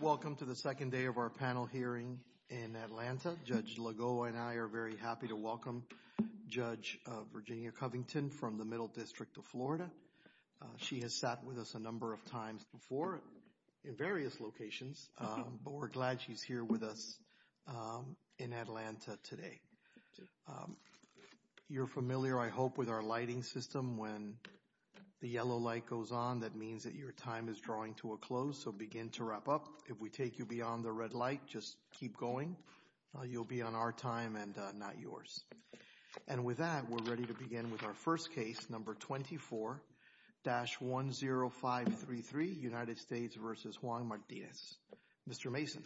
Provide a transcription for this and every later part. Welcome to the second day of our panel hearing in Atlanta. Judge Lagoa and I are very happy to welcome Judge Virginia Covington from the Middle District of Florida. She has sat with us a number of times before in various locations, but we're glad she's here with us in Atlanta today. You're familiar, I hope, with our lighting system. When the yellow light goes on, that means that your time is drawing to a close, so begin to wrap up. If we take you beyond the red light, just keep going. You'll be on our time and not yours. And with that, we're ready to begin with our first case, number 24-10533, United States v. Juan Martinez. Mr. Mason.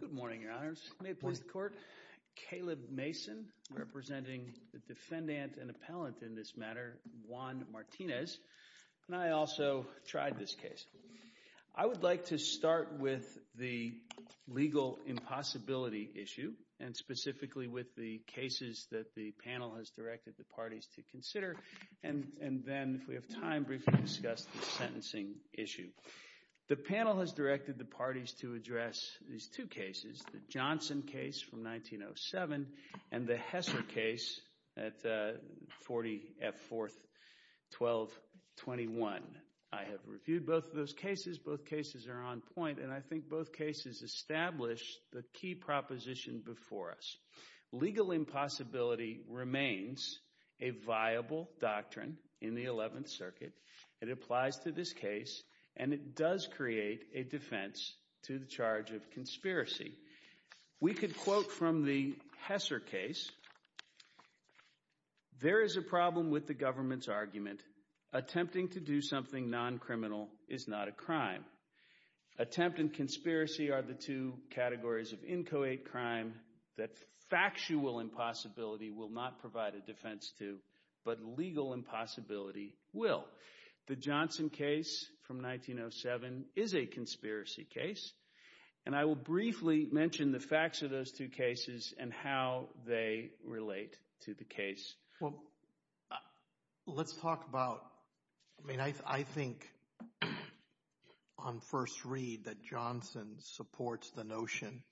Good morning, Your Honors. May it please the Court? Caleb Mason, representing the defendant and appellant in this matter, Juan Martinez, and I also tried this case. I would like to start with the legal impossibility issue, and specifically with the cases that the panel has directed the parties to consider, and then, if we have time, briefly discuss the sentencing issue. The panel has directed the parties to address these two cases, the Johnson case from 1907 and the Hesser case at 40 F. 4th, 1221. I have reviewed both of those cases. Both cases are on point, and I think both cases established the key proposition before us. Legal impossibility remains a viable doctrine in the 11th Circuit. It applies to this case, and it does create a defense to the charge of conspiracy. We could quote from the Hesser case. There is a problem with the government's argument. Attempting to do something non-criminal is not a crime. Attempt and conspiracy are the two categories of inchoate crime that factual impossibility will not provide a defense to, but legal impossibility will. The Johnson case from 1907 is a conspiracy case, and I will briefly mention the facts of those two cases and how they relate to the case. Well, let's talk about, I mean, I think on first read that Johnson supports the notion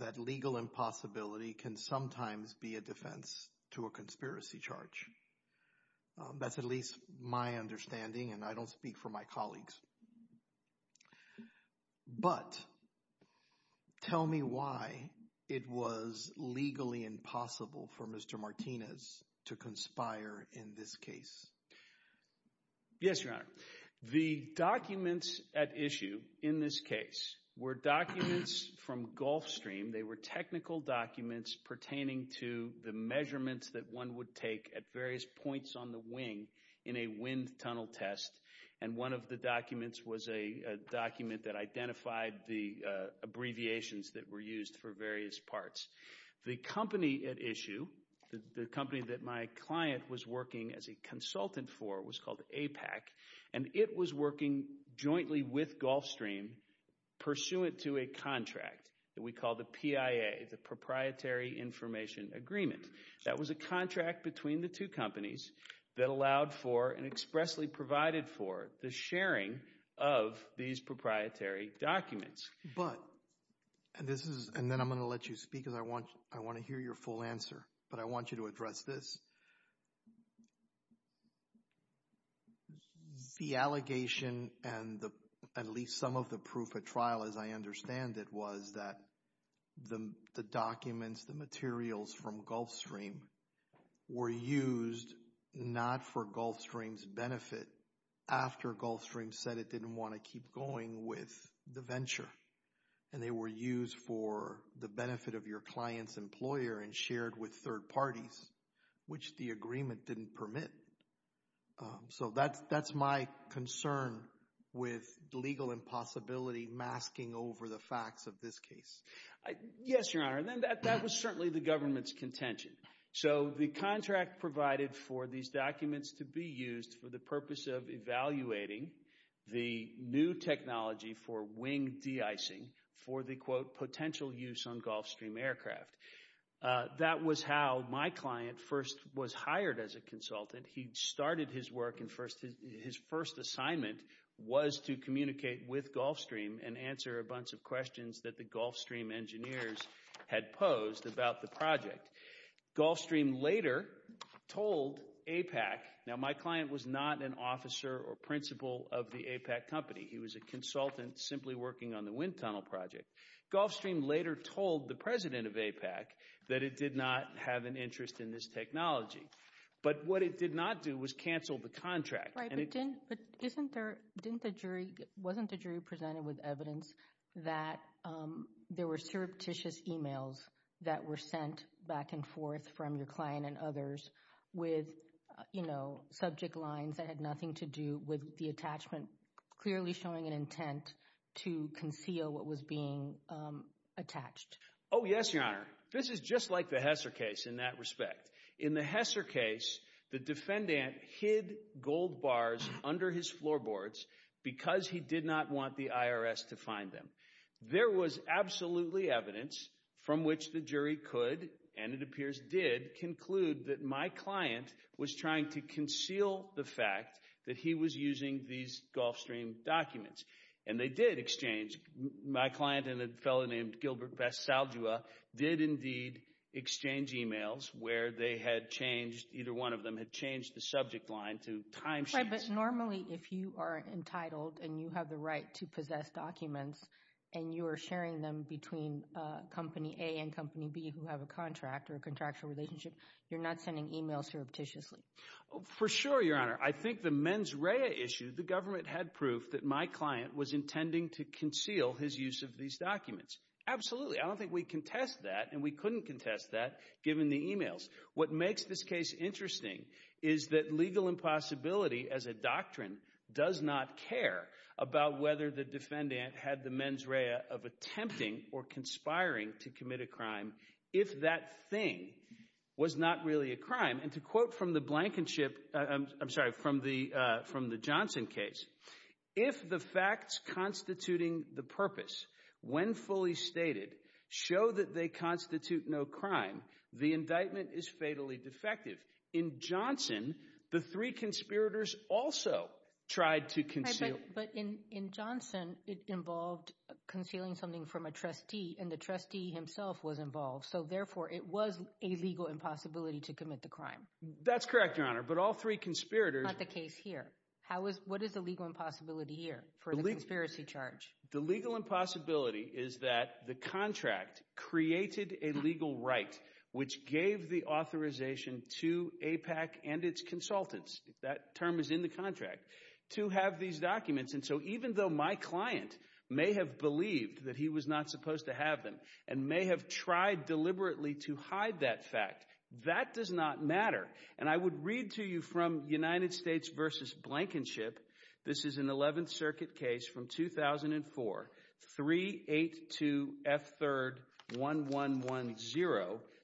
that legal impossibility can sometimes be a defense to a conspiracy charge. That's at least my understanding, and I don't speak for my colleagues. But, tell me why it was legally impossible for Mr. Martinez to conspire in this case. Yes, Your Honor. The documents at issue in this case were documents from Gulfstream. They were technical documents pertaining to the measurements that one would take at various points on the wing in a wind tunnel test, and one of the documents was a document that identified the abbreviations that were used for various parts. The company at issue, the company that my client was working as a consultant for was called APAC, and it was working jointly with Gulfstream pursuant to a contract that we call the PIA, the Proprietary Information Agreement. That was a contract between the two companies that allowed for and expressly provided for the sharing of these proprietary documents. But, and this is, and then I'm going to let you speak because I want to hear your full answer, but I want you to address this. The allegation and the, at least some of the proof at trial as I understand it, was that the documents, the materials from Gulfstream, were used not for Gulfstream's benefit after Gulfstream said it didn't want to keep going with the venture, and they were used for the benefit of your client's employer and shared with third parties, which the agreement didn't permit. So, that's my concern with legal impossibility masking over the facts of this case. Yes, Your Honor, and then that was certainly the government's contention. So, the contract provided for these documents to be used for the purpose of evaluating the new technology for wing de-icing for the, quote, potential use on Gulfstream aircraft. That was how my client first was hired as a consultant. He started his work in first, his first assignment was to communicate with Gulfstream and answer a bunch of questions that the Gulfstream engineers had posed about the project. Gulfstream later told APAC, now my client was not an officer or principal of the APAC company, he was a consultant simply working on the wind tunnel project, Gulfstream later told the president of APAC that it did not have an interest in this technology. But what it did not do was cancel the contract. Right, but didn't, but isn't there, didn't the jury, wasn't the jury presented with evidence that there were surreptitious emails that were sent back and forth from your client and others with, you know, subject lines that had nothing to do with the attachment clearly showing an intent to conceal what was being attached? Oh, yes, your honor. This is just like the Hesser case in that respect. In the Hesser case, the defendant hid gold bars under his floorboards because he did not want the IRS to find them. There was absolutely evidence from which the jury could, and it appears did, conclude that my client was trying to conceal the fact that he was using these Gulfstream documents. And they did exchange, my client and a fellow named Gilbert Basaldua did indeed exchange emails where they had changed, either one of them had changed the subject line to time sheets. Right, but normally if you are entitled and you have the right to possess documents and you are sharing them between Company A and Company B who have a contract or a contractual relationship, you're not sending emails surreptitiously. For sure, your honor. I think the mens rea issue, the government had proof that my client was intending to conceal his use of these documents. Absolutely, I don't think we contest that and we couldn't contest that given the emails. What makes this case interesting is that legal impossibility as a doctrine does not care about whether the defendant had the mens rea of attempting or conspiring to commit a crime if that thing was not really a crime. And to quote from the Blankenship, I'm sorry, from the Johnson case, if the facts constituting the purpose, when fully stated, show that they constitute no crime, the indictment is fatally defective. In Johnson, the three conspirators also tried to conceal. But in Johnson, it involved concealing something from a trustee and the trustee himself was involved. So therefore, it was a legal impossibility to commit the crime. That's correct, your honor, but all three conspirators. Not the case here. How is, what is the legal impossibility here for the conspiracy charge? The legal impossibility is that the contract created a legal right which gave the authorization to APAC and its consultants, if that term is in the contract, to have these documents. And so even though my client may have believed that he was not supposed to have them and may have tried deliberately to hide that fact, that does not matter. And I would read to you from United States versus Blankenship. This is an 11th Circuit case from 2004, 382 F 3rd 1110.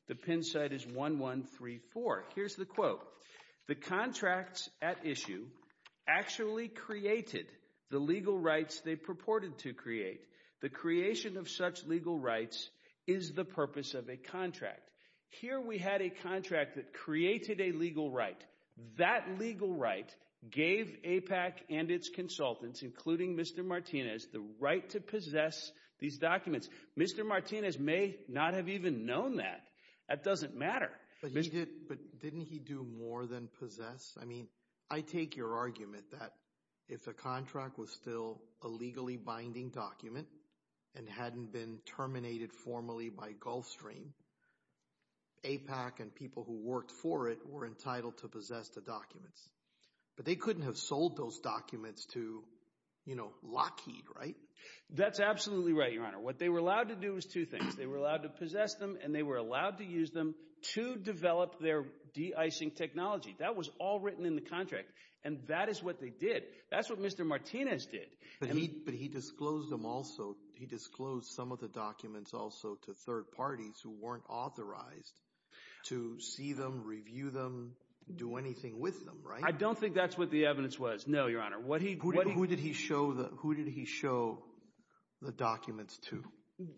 The pin site is 1134. Here's the quote. The contracts at issue actually created the legal rights they purported to create. The creation of such legal rights is the purpose of a contract. Here we had a contract that created a legal right. That legal right gave APAC and its consultants, including Mr. Martinez, the right to possess these documents. Mr. Martinez may not have even known that. That doesn't matter. But he did, but didn't he do more than possess? I mean, I take your argument that if the contract was still a legally binding document and hadn't been terminated formally by Gulfstream, APAC and people who worked for it were entitled to possess the documents. But they couldn't have sold those documents to, you know, Lockheed, right? That's absolutely right, Your Honor. What they were allowed to do was two things. They were allowed to possess them and they were allowed to use them to develop their de-icing technology. That was all written in the contract and that is what they did. That's what Mr. Martinez did. But he disclosed them also. He disclosed some of the documents also to third parties who weren't authorized to see them, review them, do anything with them, right? I don't think that's what the evidence was. No, Your Honor. Who did he show the documents to?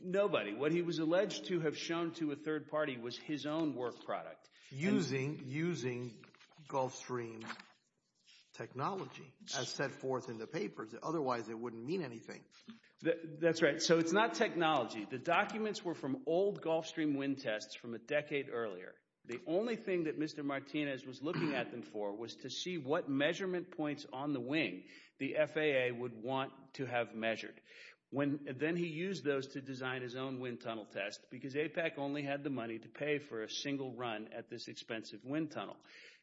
Nobody. What he was alleged to have shown to a third party was his own work product. Using Gulfstream technology as set forth in the papers. Otherwise, it wouldn't mean anything. That's right. So it's not technology. The documents were from old Gulfstream wind tests from a decade earlier. The only thing that Mr. Martinez knew was what measurement points on the wing the FAA would want to have measured. Then he used those to design his own wind tunnel test because APEC only had the money to pay for a single run at this expensive wind tunnel.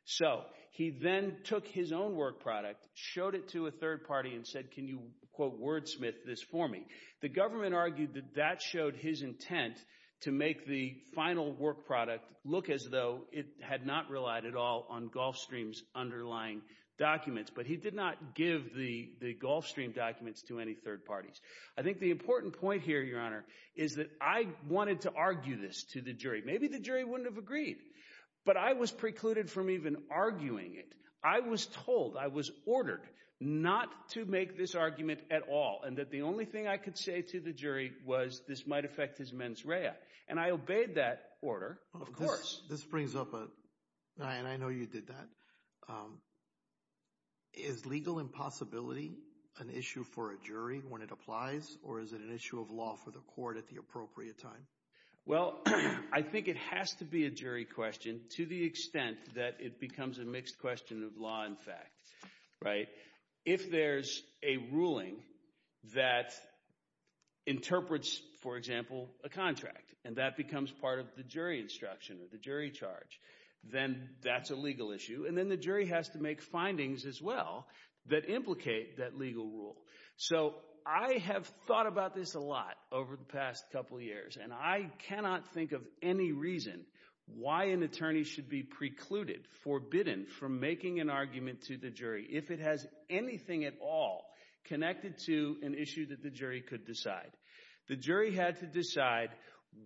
So he then took his own work product, showed it to a third party and said, can you, quote, wordsmith this for me? The government argued that that showed his intent to make the final work product look as though it had not relied at all on Gulfstream's underlying documents, but he did not give the Gulfstream documents to any third parties. I think the important point here, Your Honor, is that I wanted to argue this to the jury. Maybe the jury wouldn't have agreed, but I was precluded from even arguing it. I was told, I was ordered not to make this argument at all. And that the only thing I could say to the jury was this might affect his mens rea. And I obeyed that order, of course. This brings up, and I know you did that, is legal impossibility an issue for a jury when it applies or is it an issue of law for the court at the appropriate time? Well, I think it has to be a jury question to the extent that it becomes a mixed question of law and fact, right? If there's a ruling that interprets, for example, a contract and that becomes part of the jury instruction or the jury charge, then that's a legal issue. And then the jury has to make findings as well that implicate that legal rule. So I have thought about this a lot over the past couple of years, and I cannot think of any reason why an attorney should be precluded, forbidden from making an argument to the jury if it has anything at all connected to an issue that the jury could decide. The jury had to decide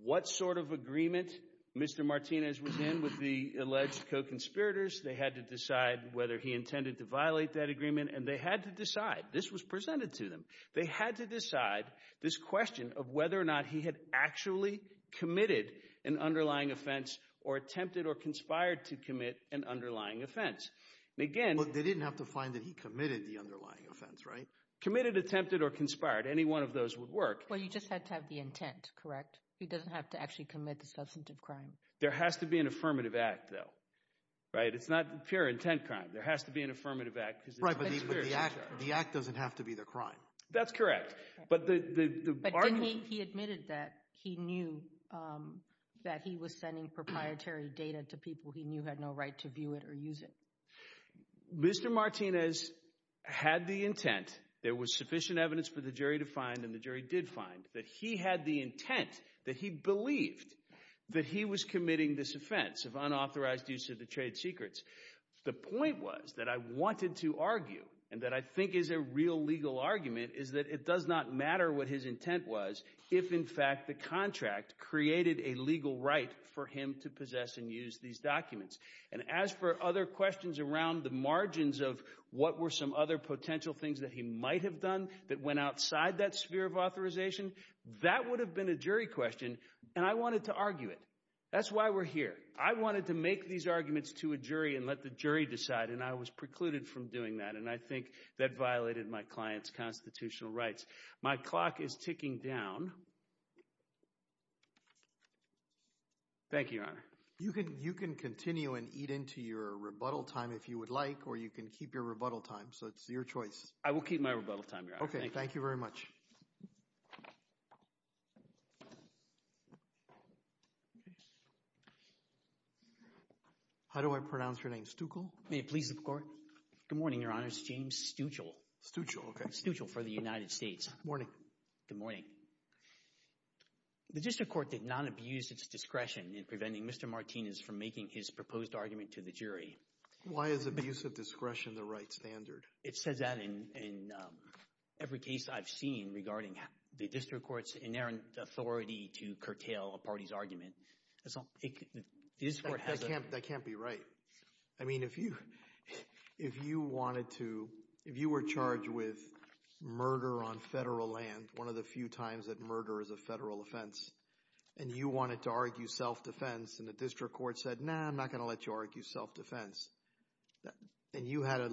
what sort of agreement Mr. Martinez was in with the alleged co-conspirators. They had to decide whether he intended to violate that agreement. And they had to decide, this was presented to them, they had to decide this question of whether or not he had actually committed an underlying offense or attempted or conspired to commit an underlying offense. And again, they didn't have to find that he committed the underlying offense, right? Committed, attempted or conspired. Any one of those would work. Well, you just had to have the intent, correct? He doesn't have to actually commit the substantive crime. There has to be an affirmative act, though, right? It's not pure intent crime. There has to be an affirmative act. Right, but the act doesn't have to be the crime. That's correct. But he admitted that he knew that he was sending proprietary data to people he knew had no right to view it or use it. Mr. Martinez had the intent, there was sufficient evidence for the jury to find and the jury did find, that he had the intent, that he believed that he was committing this offense of unauthorized use of the trade secrets. The point was that I wanted to argue and that I think is a real legal argument is that it does not matter what his intent was if, in fact, the contract created a legal right for him to possess and use these documents. And as for other questions around the margins of what were some other potential things that he might have done that went outside that sphere of authorization, that would have been a jury question and I wanted to argue it. That's why we're here. I wanted to make these arguments to a jury and let the jury decide and I was precluded from doing that and I think that violated my client's constitutional rights. My clock is ticking down. Thank you, Your Honor. You can continue and eat into your rebuttal time if you would like or you can keep your rebuttal time, so it's your choice. I will keep my rebuttal time, Your Honor. Okay, thank you very much. How do I pronounce your name, Stuchel? May it please the Court. Good morning, Your Honor. It's James Stuchel. Stuchel, okay. Stuchel for the United States. Morning. Good morning. The district court did not abuse its discretion in preventing Mr. Martinez from making his proposed argument to the jury. Why is abuse of discretion the right standard? It says that in every case I've seen regarding the district court's inerrant authority to curtail a party's argument. That can't be right. I mean, if you wanted to, if you were charged with murder on federal land, one of the few times that murder is a federal offense, and you wanted to argue self-defense, and the district court said, nah, I'm not going to let you argue self-defense, and you had a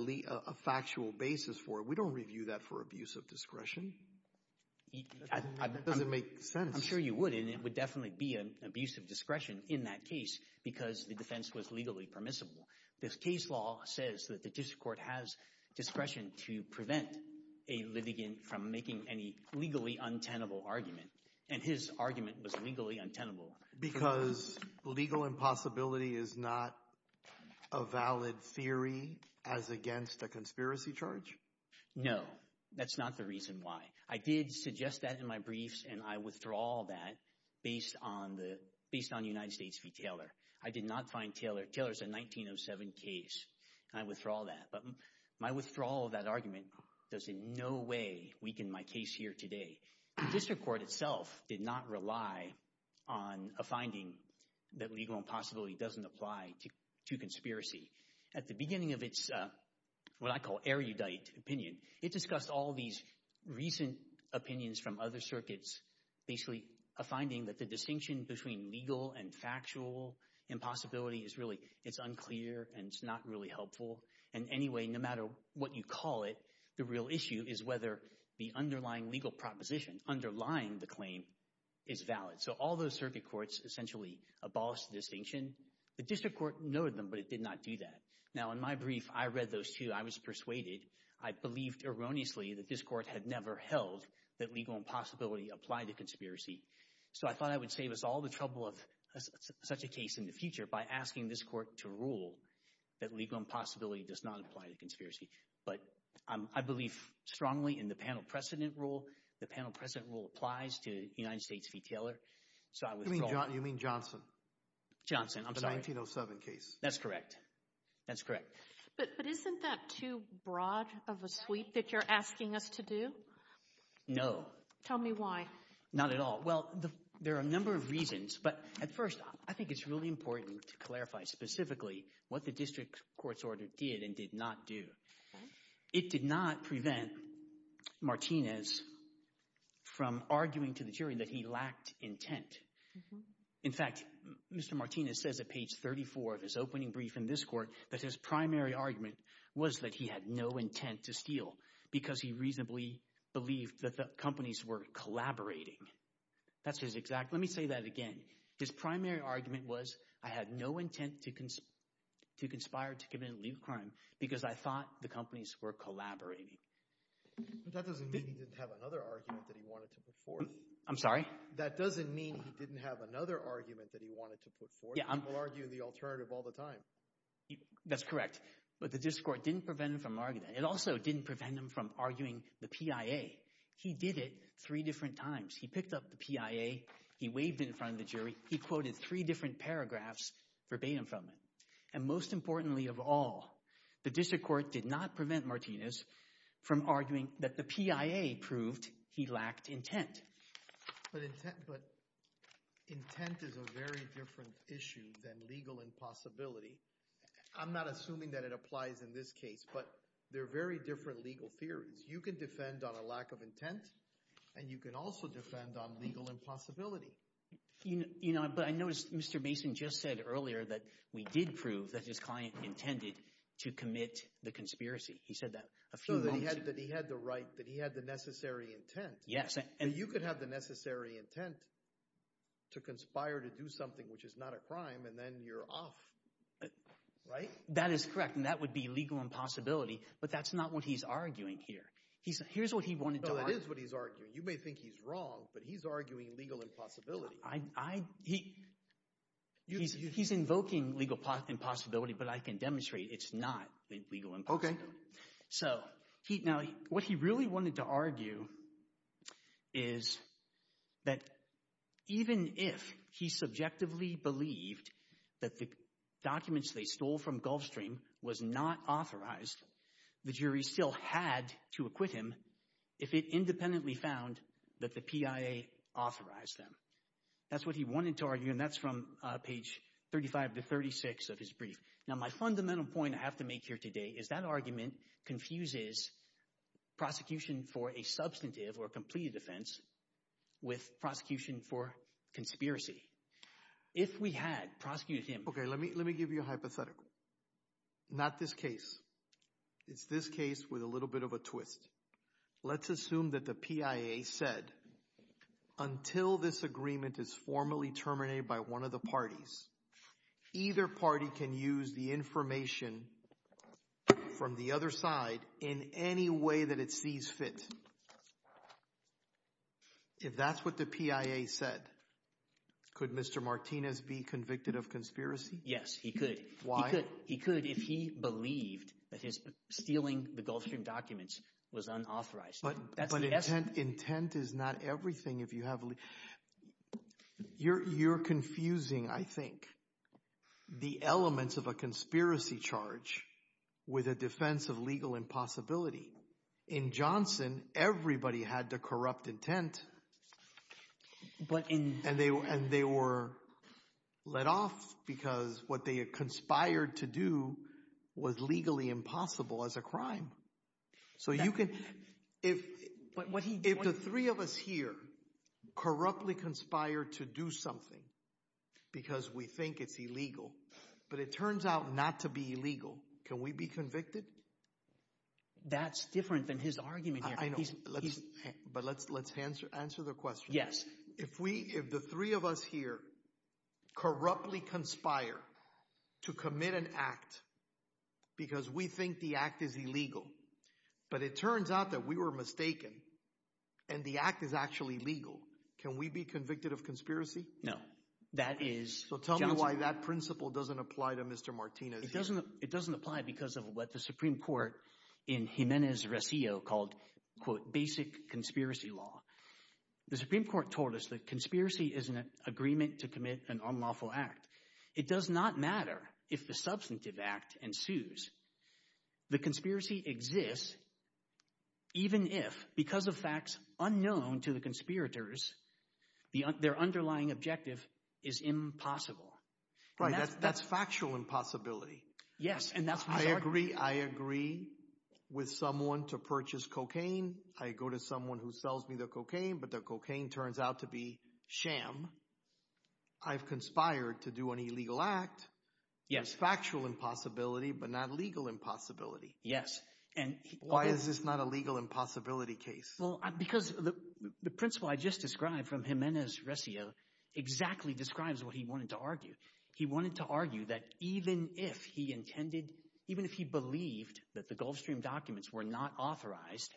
factual basis for it, we don't review that for abuse of discretion. That doesn't make sense. I'm sure you would, and it would definitely be an abuse of discretion in that case because the defense was legally permissible. This case law says that the district court has discretion to prevent a litigant from making any legally untenable argument, and his argument was legally untenable. Because legal impossibility is not a valid theory as against a conspiracy charge? No, that's not the reason why. I did suggest that in my briefs, and I withdraw that based on the, based on United States v. Taylor. I did not find Taylor, Taylor's a 1907 case, and I withdraw that, but my withdrawal of that argument does in no way weaken my case here today. The district court itself did not rely on a finding that legal impossibility doesn't apply to conspiracy. At the beginning of its, what I call, erudite opinion, it discussed all these recent opinions from other circuits, basically a finding that the distinction between legal and factual impossibility is really, it's unclear and it's not really helpful. And anyway, no matter what you call it, the real issue is whether the underlying legal proposition underlying the claim is valid. So all those circuit courts essentially abolished the distinction. The district court noted them, but it did not do that. Now, in my brief, I read those two. I was persuaded. I believed erroneously that this court had never held that legal impossibility applied to conspiracy. So I thought I would save us all the trouble of such a case in the future by asking this court to rule that legal impossibility does not apply to conspiracy. But I believe strongly in the panel precedent rule. The panel precedent rule applies to United States v. Taylor. You mean Johnson? Johnson, I'm sorry. The 1907 case. That's correct. That's correct. But isn't that too broad of a sweep that you're asking us to do? No. Tell me why. Not at all. Well, there are a number of reasons, but at first, I think it's really important to clarify specifically what the district court's order did and did not do. It did not prevent Martinez from arguing to the jury that he lacked intent. In fact, Mr. Martinez says at page 34 of his opening brief in this court that his primary argument was that he had no intent to steal because he reasonably believed that the companies were collaborating. That's his exact. Let me say that again. His primary argument was, I had no intent to conspire to commit a legal crime because I thought the companies were collaborating. That doesn't mean he didn't have another argument that he wanted to put forth. I'm sorry? That doesn't mean he didn't have another argument that he wanted to put forth. People argue the alternative all the time. That's correct. But the district court didn't prevent him from arguing that. It also didn't prevent him from arguing the PIA. He did it three different times. He picked up the PIA. He waved in front of the jury. He quoted three different paragraphs verbatim from it. And most importantly of all, the district court did not prevent Martinez from arguing that the PIA proved he lacked intent. But intent is a very different issue than legal impossibility. I'm not assuming that it applies in this case, but they're very different legal theories. You can defend on a lack of intent, and you can also defend on legal impossibility. But I noticed Mr. Mason just said earlier that we did prove that his client intended to commit the conspiracy. He said that a few months ago. So that he had the right, that he had the necessary intent. Yes. And you could have the necessary intent to conspire to do something which is not a crime, and then you're off. Right? That is correct. And that would be legal impossibility. But that's not what he's arguing here. He's, here's what he wanted to argue. No, that is what he's arguing. You may think he's wrong, but he's arguing legal impossibility. I, he, he's, he's invoking legal impossibility, but I can demonstrate it's not legal impossibility. So he, now, what he really wanted to argue is that even if he subjectively believed that the documents they stole from Gulfstream was not authorized, the jury still had to acquit him if it independently found that the PIA authorized them. That's what he wanted to argue, and that's from page 35 to 36 of his brief. Now, my fundamental point I have to make here today is that argument confuses prosecution for a substantive or completed offense with prosecution for conspiracy. If we had prosecuted him. Okay, let me, let me give you a hypothetical. Not this case. It's this case with a little bit of a twist. Let's assume that the PIA said, until this agreement is formally terminated by one of the parties, either party can use the information from the other side in any way that it sees fit. If that's what the PIA said, could Mr. Martinez be convicted of conspiracy? Yes, he could. Why? He could if he believed that his stealing the Gulfstream documents was unauthorized. But intent is not everything. If you have, you're confusing, I think, the elements of a conspiracy charge with a defense of legal impossibility. In Johnson, everybody had to corrupt intent. But in. And they were, and they were let off because what they had conspired to do was legally impossible as a crime. So you can, if, if the three of us here corruptly conspired to do something because we think it's illegal, but it turns out not to be illegal, can we be convicted? That's different than his argument here. I know, but let's, let's answer, answer the question. If we, if the three of us here corruptly conspire to commit an act because we think the act is illegal, but it turns out that we were mistaken and the act is actually legal, can we be convicted of conspiracy? No, that is. So tell me why that principle doesn't apply to Mr. Martinez. It doesn't, it doesn't apply because of what the Supreme Court in Jimenez-Rosillo called, quote, basic conspiracy law. The Supreme Court told us that conspiracy is an agreement to commit an unlawful act. It does not matter if the substantive act ensues. The conspiracy exists even if, because of facts unknown to the conspirators, their underlying objective is impossible. Right, that's, that's factual impossibility. Yes, and that's why I agree. I agree with someone to purchase cocaine. I go to someone who sells me the cocaine, but the cocaine turns out to be sham. I've conspired to do an illegal act. Yes, factual impossibility, but not legal impossibility. Yes. And why is this not a legal impossibility case? Well, because the principle I just described from Jimenez-Rosillo exactly describes what he wanted to argue. He wanted to argue that even if he intended, even if he believed that the Gulfstream documents were not authorized,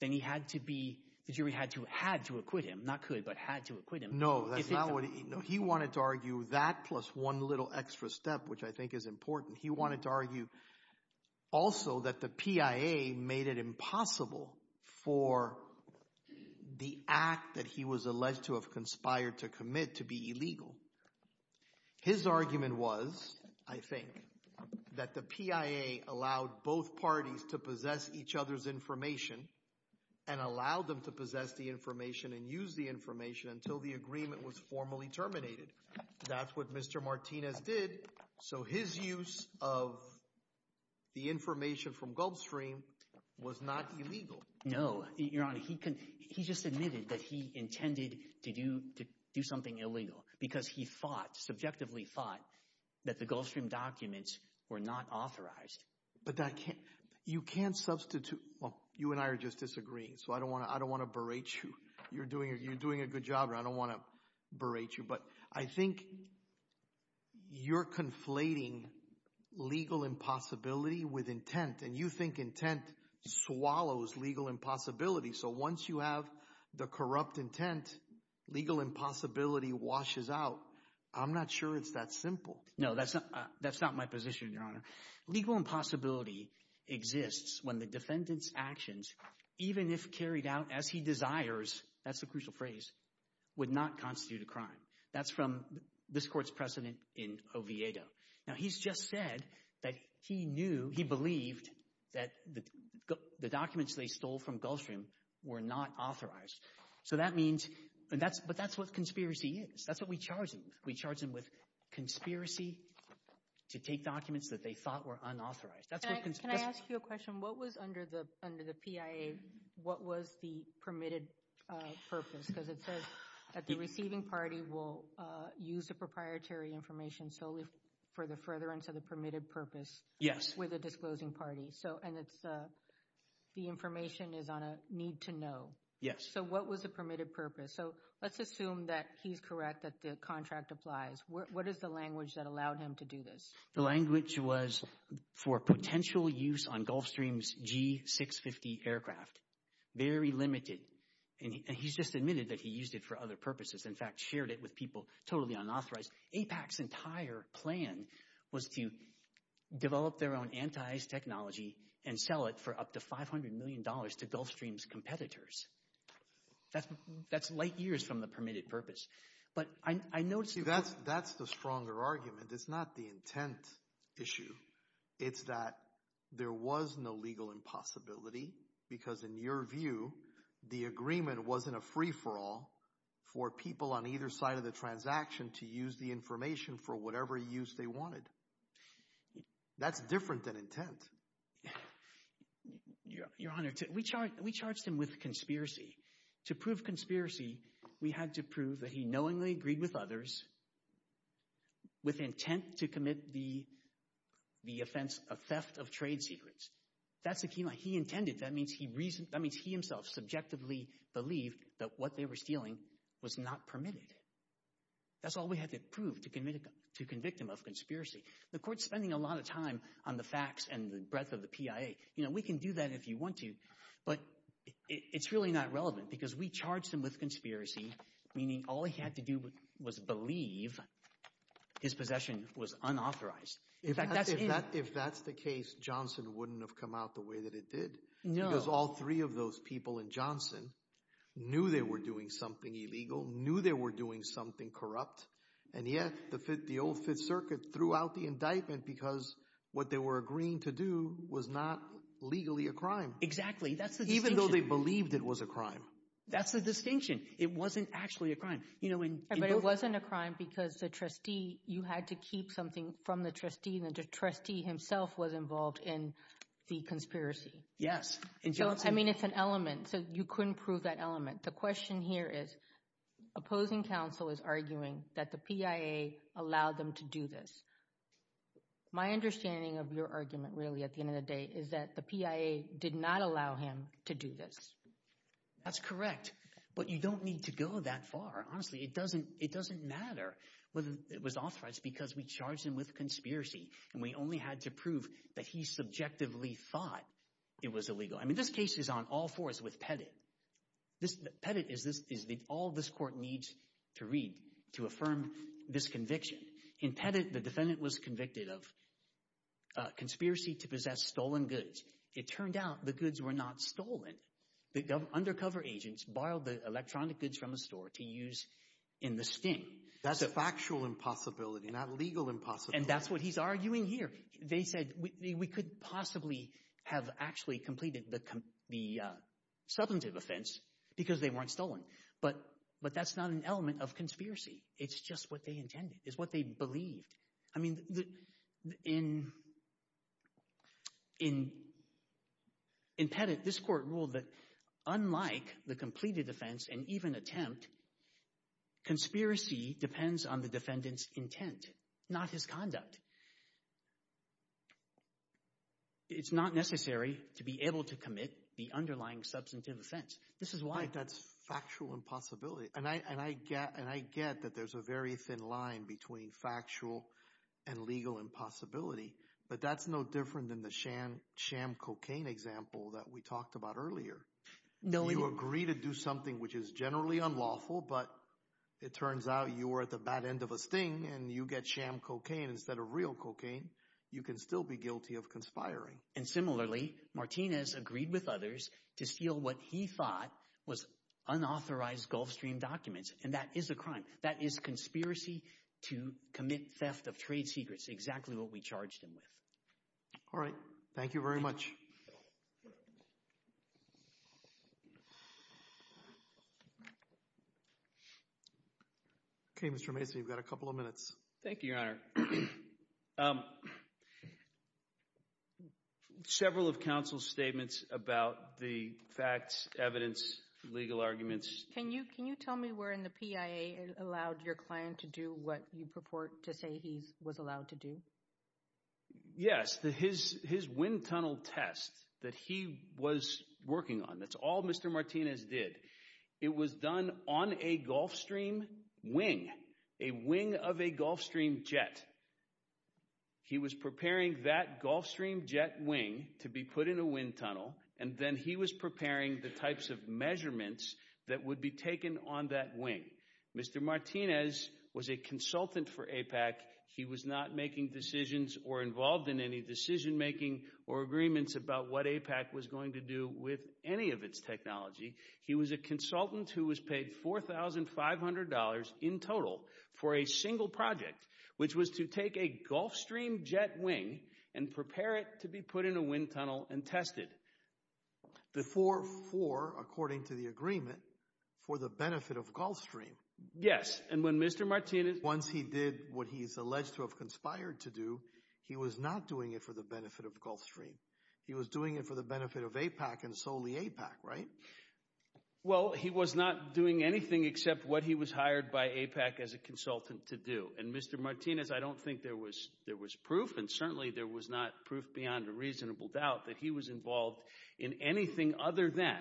then he had to be, the jury had to, had to acquit him, not could, but had to acquit him. No, that's not what he, no, he wanted to argue that plus one little extra step, which I think is important. He wanted to argue also that the PIA made it impossible for the act that he was alleged to have conspired to commit to be illegal. His argument was, I think, that the PIA allowed both parties to possess each other's information and allowed them to possess the information and use the information until the agreement was formally terminated. That's what Mr. Martinez did. So his use of the information from Gulfstream was not illegal. No, Your Honor, he just admitted that he intended to do something illegal because he thought, subjectively thought, that the Gulfstream documents were not authorized. But that can't, you can't substitute, well, you and I are just disagreeing, so I don't want to berate you. You're doing a good job, and I don't want to berate you. But I think you're conflating legal impossibility with intent, and you think intent swallows legal impossibility. So once you have the corrupt intent, legal impossibility washes out. I'm not sure it's that simple. No, that's not my position, Your Honor. Legal impossibility exists when the defendant's actions, even if carried out as he desires, that's the crucial phrase, would not constitute a crime. That's from this court's precedent in Oviedo. Now, he's just said that he knew, he believed, that the documents they stole from Gulfstream were not authorized. So that means, but that's what conspiracy is. That's what we charge them with. We charge them with conspiracy to take documents that they thought were unauthorized. Can I ask you a question? What was under the PIA, what was the permitted purpose? Because it says that the receiving party will use the proprietary information solely for the furtherance of the permitted purpose with the disclosing party. So, and it's the information is on a need to know. Yes. So what was the permitted purpose? So let's assume that he's correct, that the contract applies. What is the language that allowed him to do this? The language was for potential use on Gulfstream's G650 aircraft, very limited, and he's just admitted that he used it for other purposes. In fact, shared it with people totally unauthorized. APAC's entire plan was to develop their own anti-ice technology and sell it for up to $500 million to Gulfstream's competitors. That's light years from the permitted purpose. But I noticed... See, that's the stronger argument. It's not the intent issue. It's that there was no legal impossibility because, in your view, the agreement wasn't a free-for-all for people on either side of the transaction to use the information for whatever use they wanted. That's different than intent. Your Honor, we charged him with conspiracy. To prove conspiracy, we had to prove that he knowingly agreed with others with intent to commit the offense of theft of trade secrets. That's the key line. He intended. That means he himself subjectively believed that what they were stealing was not permitted. That's all we had to prove to convict him of conspiracy. The Court's spending a lot of time on the facts and the breadth of the PIA. You know, we can do that if you want to, but it's really not relevant because we charged him with conspiracy, meaning all he had to do was believe his possession was unauthorized. In fact, that's it. If that's the case, Johnson wouldn't have come out the way that it did. No. Because all three of those people in Johnson knew they were doing something illegal, knew they were doing something corrupt. And yet, the old Fifth Circuit threw out the indictment because what they were agreeing to do was not legally a crime. Exactly. That's the distinction. Even though they believed it was a crime. That's the distinction. It wasn't actually a crime. But it wasn't a crime because the trustee, you had to keep something from the trustee, and the trustee himself was involved in the conspiracy. Yes. I mean, it's an element, so you couldn't prove that element. The question here is, opposing counsel is arguing that the PIA allowed them to do this. My understanding of your argument, really, at the end of the day, is that the PIA did not allow him to do this. That's correct. But you don't need to go that far. Honestly, it doesn't matter whether it was authorized because we charged him with conspiracy, and we only had to prove that he subjectively thought it was illegal. I mean, this case is on all fours with Pettit. Pettit is all this court needs to read to affirm this conviction. In Pettit, the defendant was convicted of conspiracy to possess stolen goods. It turned out the goods were not stolen. The undercover agents borrowed the electronic goods from a store to use in the sting. That's a factual impossibility, not a legal impossibility. And that's what he's arguing here. They said, we could possibly have actually completed the substantive offense because they weren't stolen. But that's not an element of conspiracy. It's just what they intended. It's what they believed. I mean, in Pettit, this court ruled that unlike the completed offense and even attempt, conspiracy depends on the defendant's intent, not his conduct. It's not necessary to be able to commit the underlying substantive offense. This is why. That's factual impossibility. And I get that there's a very thin line between factual and legal impossibility. But that's no different than the sham cocaine example that we talked about earlier. You agree to do something which is generally unlawful, but it turns out you were at the bad end of a sting and you get sham cocaine instead of real cocaine. You can still be guilty of conspiring. And similarly, Martinez agreed with others to steal what he thought was unauthorized Gulfstream documents. And that is a crime. That is conspiracy to commit theft of trade secrets. Exactly what we charged him with. All right. Thank you very much. Okay, Mr. Mason, you've got a couple of minutes. Thank you, Your Honor. Several of counsel's statements about the facts, evidence, legal arguments. Can you can you tell me where in the PIA allowed your client to do what you purport to say he was allowed to do? Yes, his his wind tunnel test that he was working on. That's all Mr. Martinez did. It was done on a Gulfstream wing, a wing of a Gulfstream jet. He was preparing that Gulfstream jet wing to be put in a wind tunnel, and then he was preparing the types of measurements that would be taken on that wing. Mr. Martinez was a consultant for APAC. He was not making decisions or involved in any decision making or agreements about what APAC was going to do with any of its technology. He was a consultant who was paid four thousand five hundred dollars in total for a single project, which was to take a Gulfstream jet wing and prepare it to be put in a wind tunnel and tested. The four four, according to the agreement, for the benefit of Gulfstream. Yes. And when Mr. Martinez, once he did what he is alleged to have conspired to do, he was not doing it for the benefit of Gulfstream. He was doing it for the benefit of APAC and solely APAC. Right. Well, he was not doing anything except what he was hired by APAC as a consultant to do. And Mr. Martinez, I don't think there was there was proof and certainly there was not proof beyond a reasonable doubt that he was involved in anything other than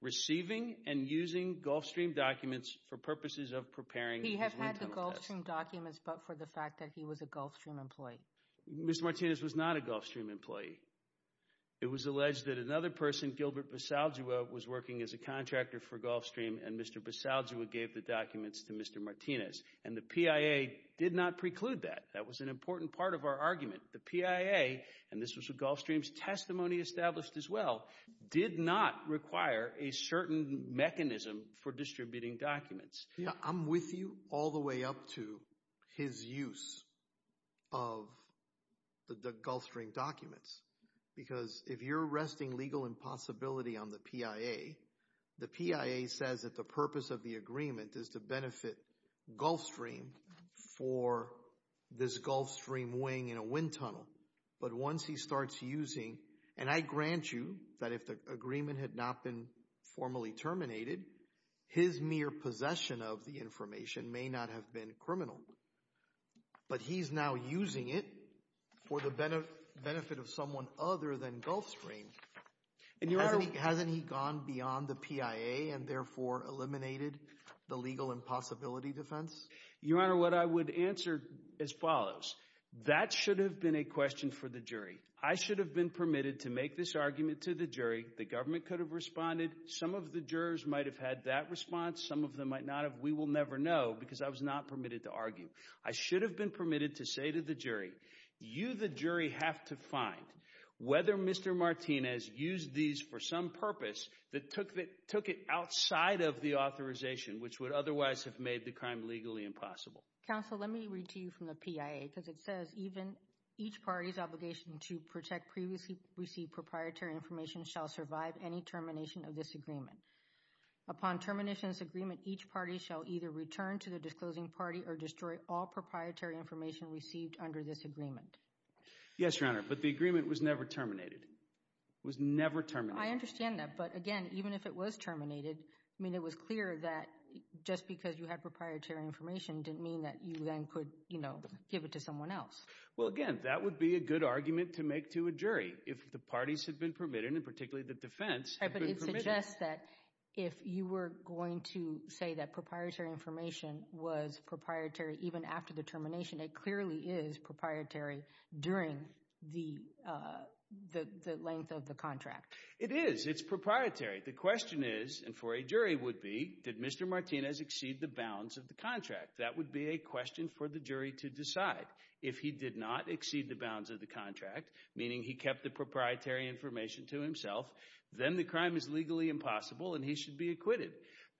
receiving and using Gulfstream documents for purposes of preparing. He has had the Gulfstream documents, but for the fact that he was a Gulfstream employee. Mr. Martinez was not a Gulfstream employee. It was alleged that another person, Gilbert Basagio, was working as a contractor for Gulfstream and Mr. Basagio gave the documents to Mr. Martinez and the PIA did not preclude that. That was an important part of our argument. The PIA, and this was a Gulfstream testimony established as well, did not require a certain mechanism for distributing documents. Yeah, I'm with you all the way up to his use of the Gulfstream documents. Because if you're arresting legal impossibility on the PIA, the PIA says that the purpose of the agreement is to benefit Gulfstream for this Gulfstream wing in a wind tunnel. But once he starts using, and I grant you that if the agreement had not been formally terminated, his mere possession of the information may not have been criminal. But he's now using it for the benefit of someone other than Gulfstream. And hasn't he gone beyond the PIA and therefore eliminated the legal impossibility defense? Your Honor, what I would answer as follows. That should have been a question for the jury. I should have been permitted to make this argument to the jury. The government could have responded. Some of the jurors might have had that response. Some of them might not have. We will never know because I was not permitted to argue. I should have been permitted to say to the jury, you, the jury, have to find whether Mr. Martinez used these for some purpose that took it outside of the authorization, which would otherwise have made the crime legally impossible. Counsel, let me read to you from the PIA because it says even each party's obligation to protect previously received proprietary information shall survive any termination of this agreement. Upon termination of this agreement, each party shall either return to the disclosing party or destroy all proprietary information received under this agreement. Yes, Your Honor. But the agreement was never terminated, was never terminated. I understand that. But again, even if it was terminated, I mean, it was clear that just because you had proprietary information didn't mean that you then could, you know, give it to someone else. Well, again, that would be a good argument to make to a jury if the parties had been permitted and particularly the defense. But it suggests that if you were going to say that proprietary information was proprietary even after the termination, it clearly is proprietary during the length of the contract. It is. The question is, and for a jury would be, did Mr. Martinez exceed the bounds of the contract? That would be a question for the jury to decide. If he did not exceed the bounds of the contract, meaning he kept the proprietary information to himself, then the crime is legally impossible and he should be acquitted.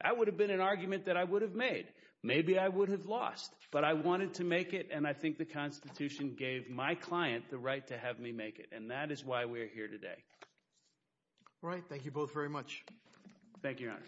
That would have been an argument that I would have made. Maybe I would have lost, but I wanted to make it. And I think the Constitution gave my client the right to have me make it. And that is why we're here today. Right. Thank you both very much. Thank you, Your Honor.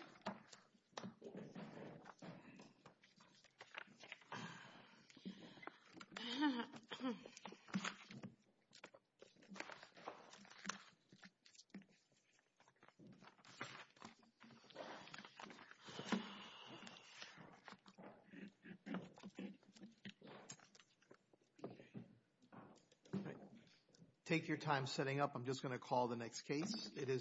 Take your time setting up. I'm just going to call the next case. It is.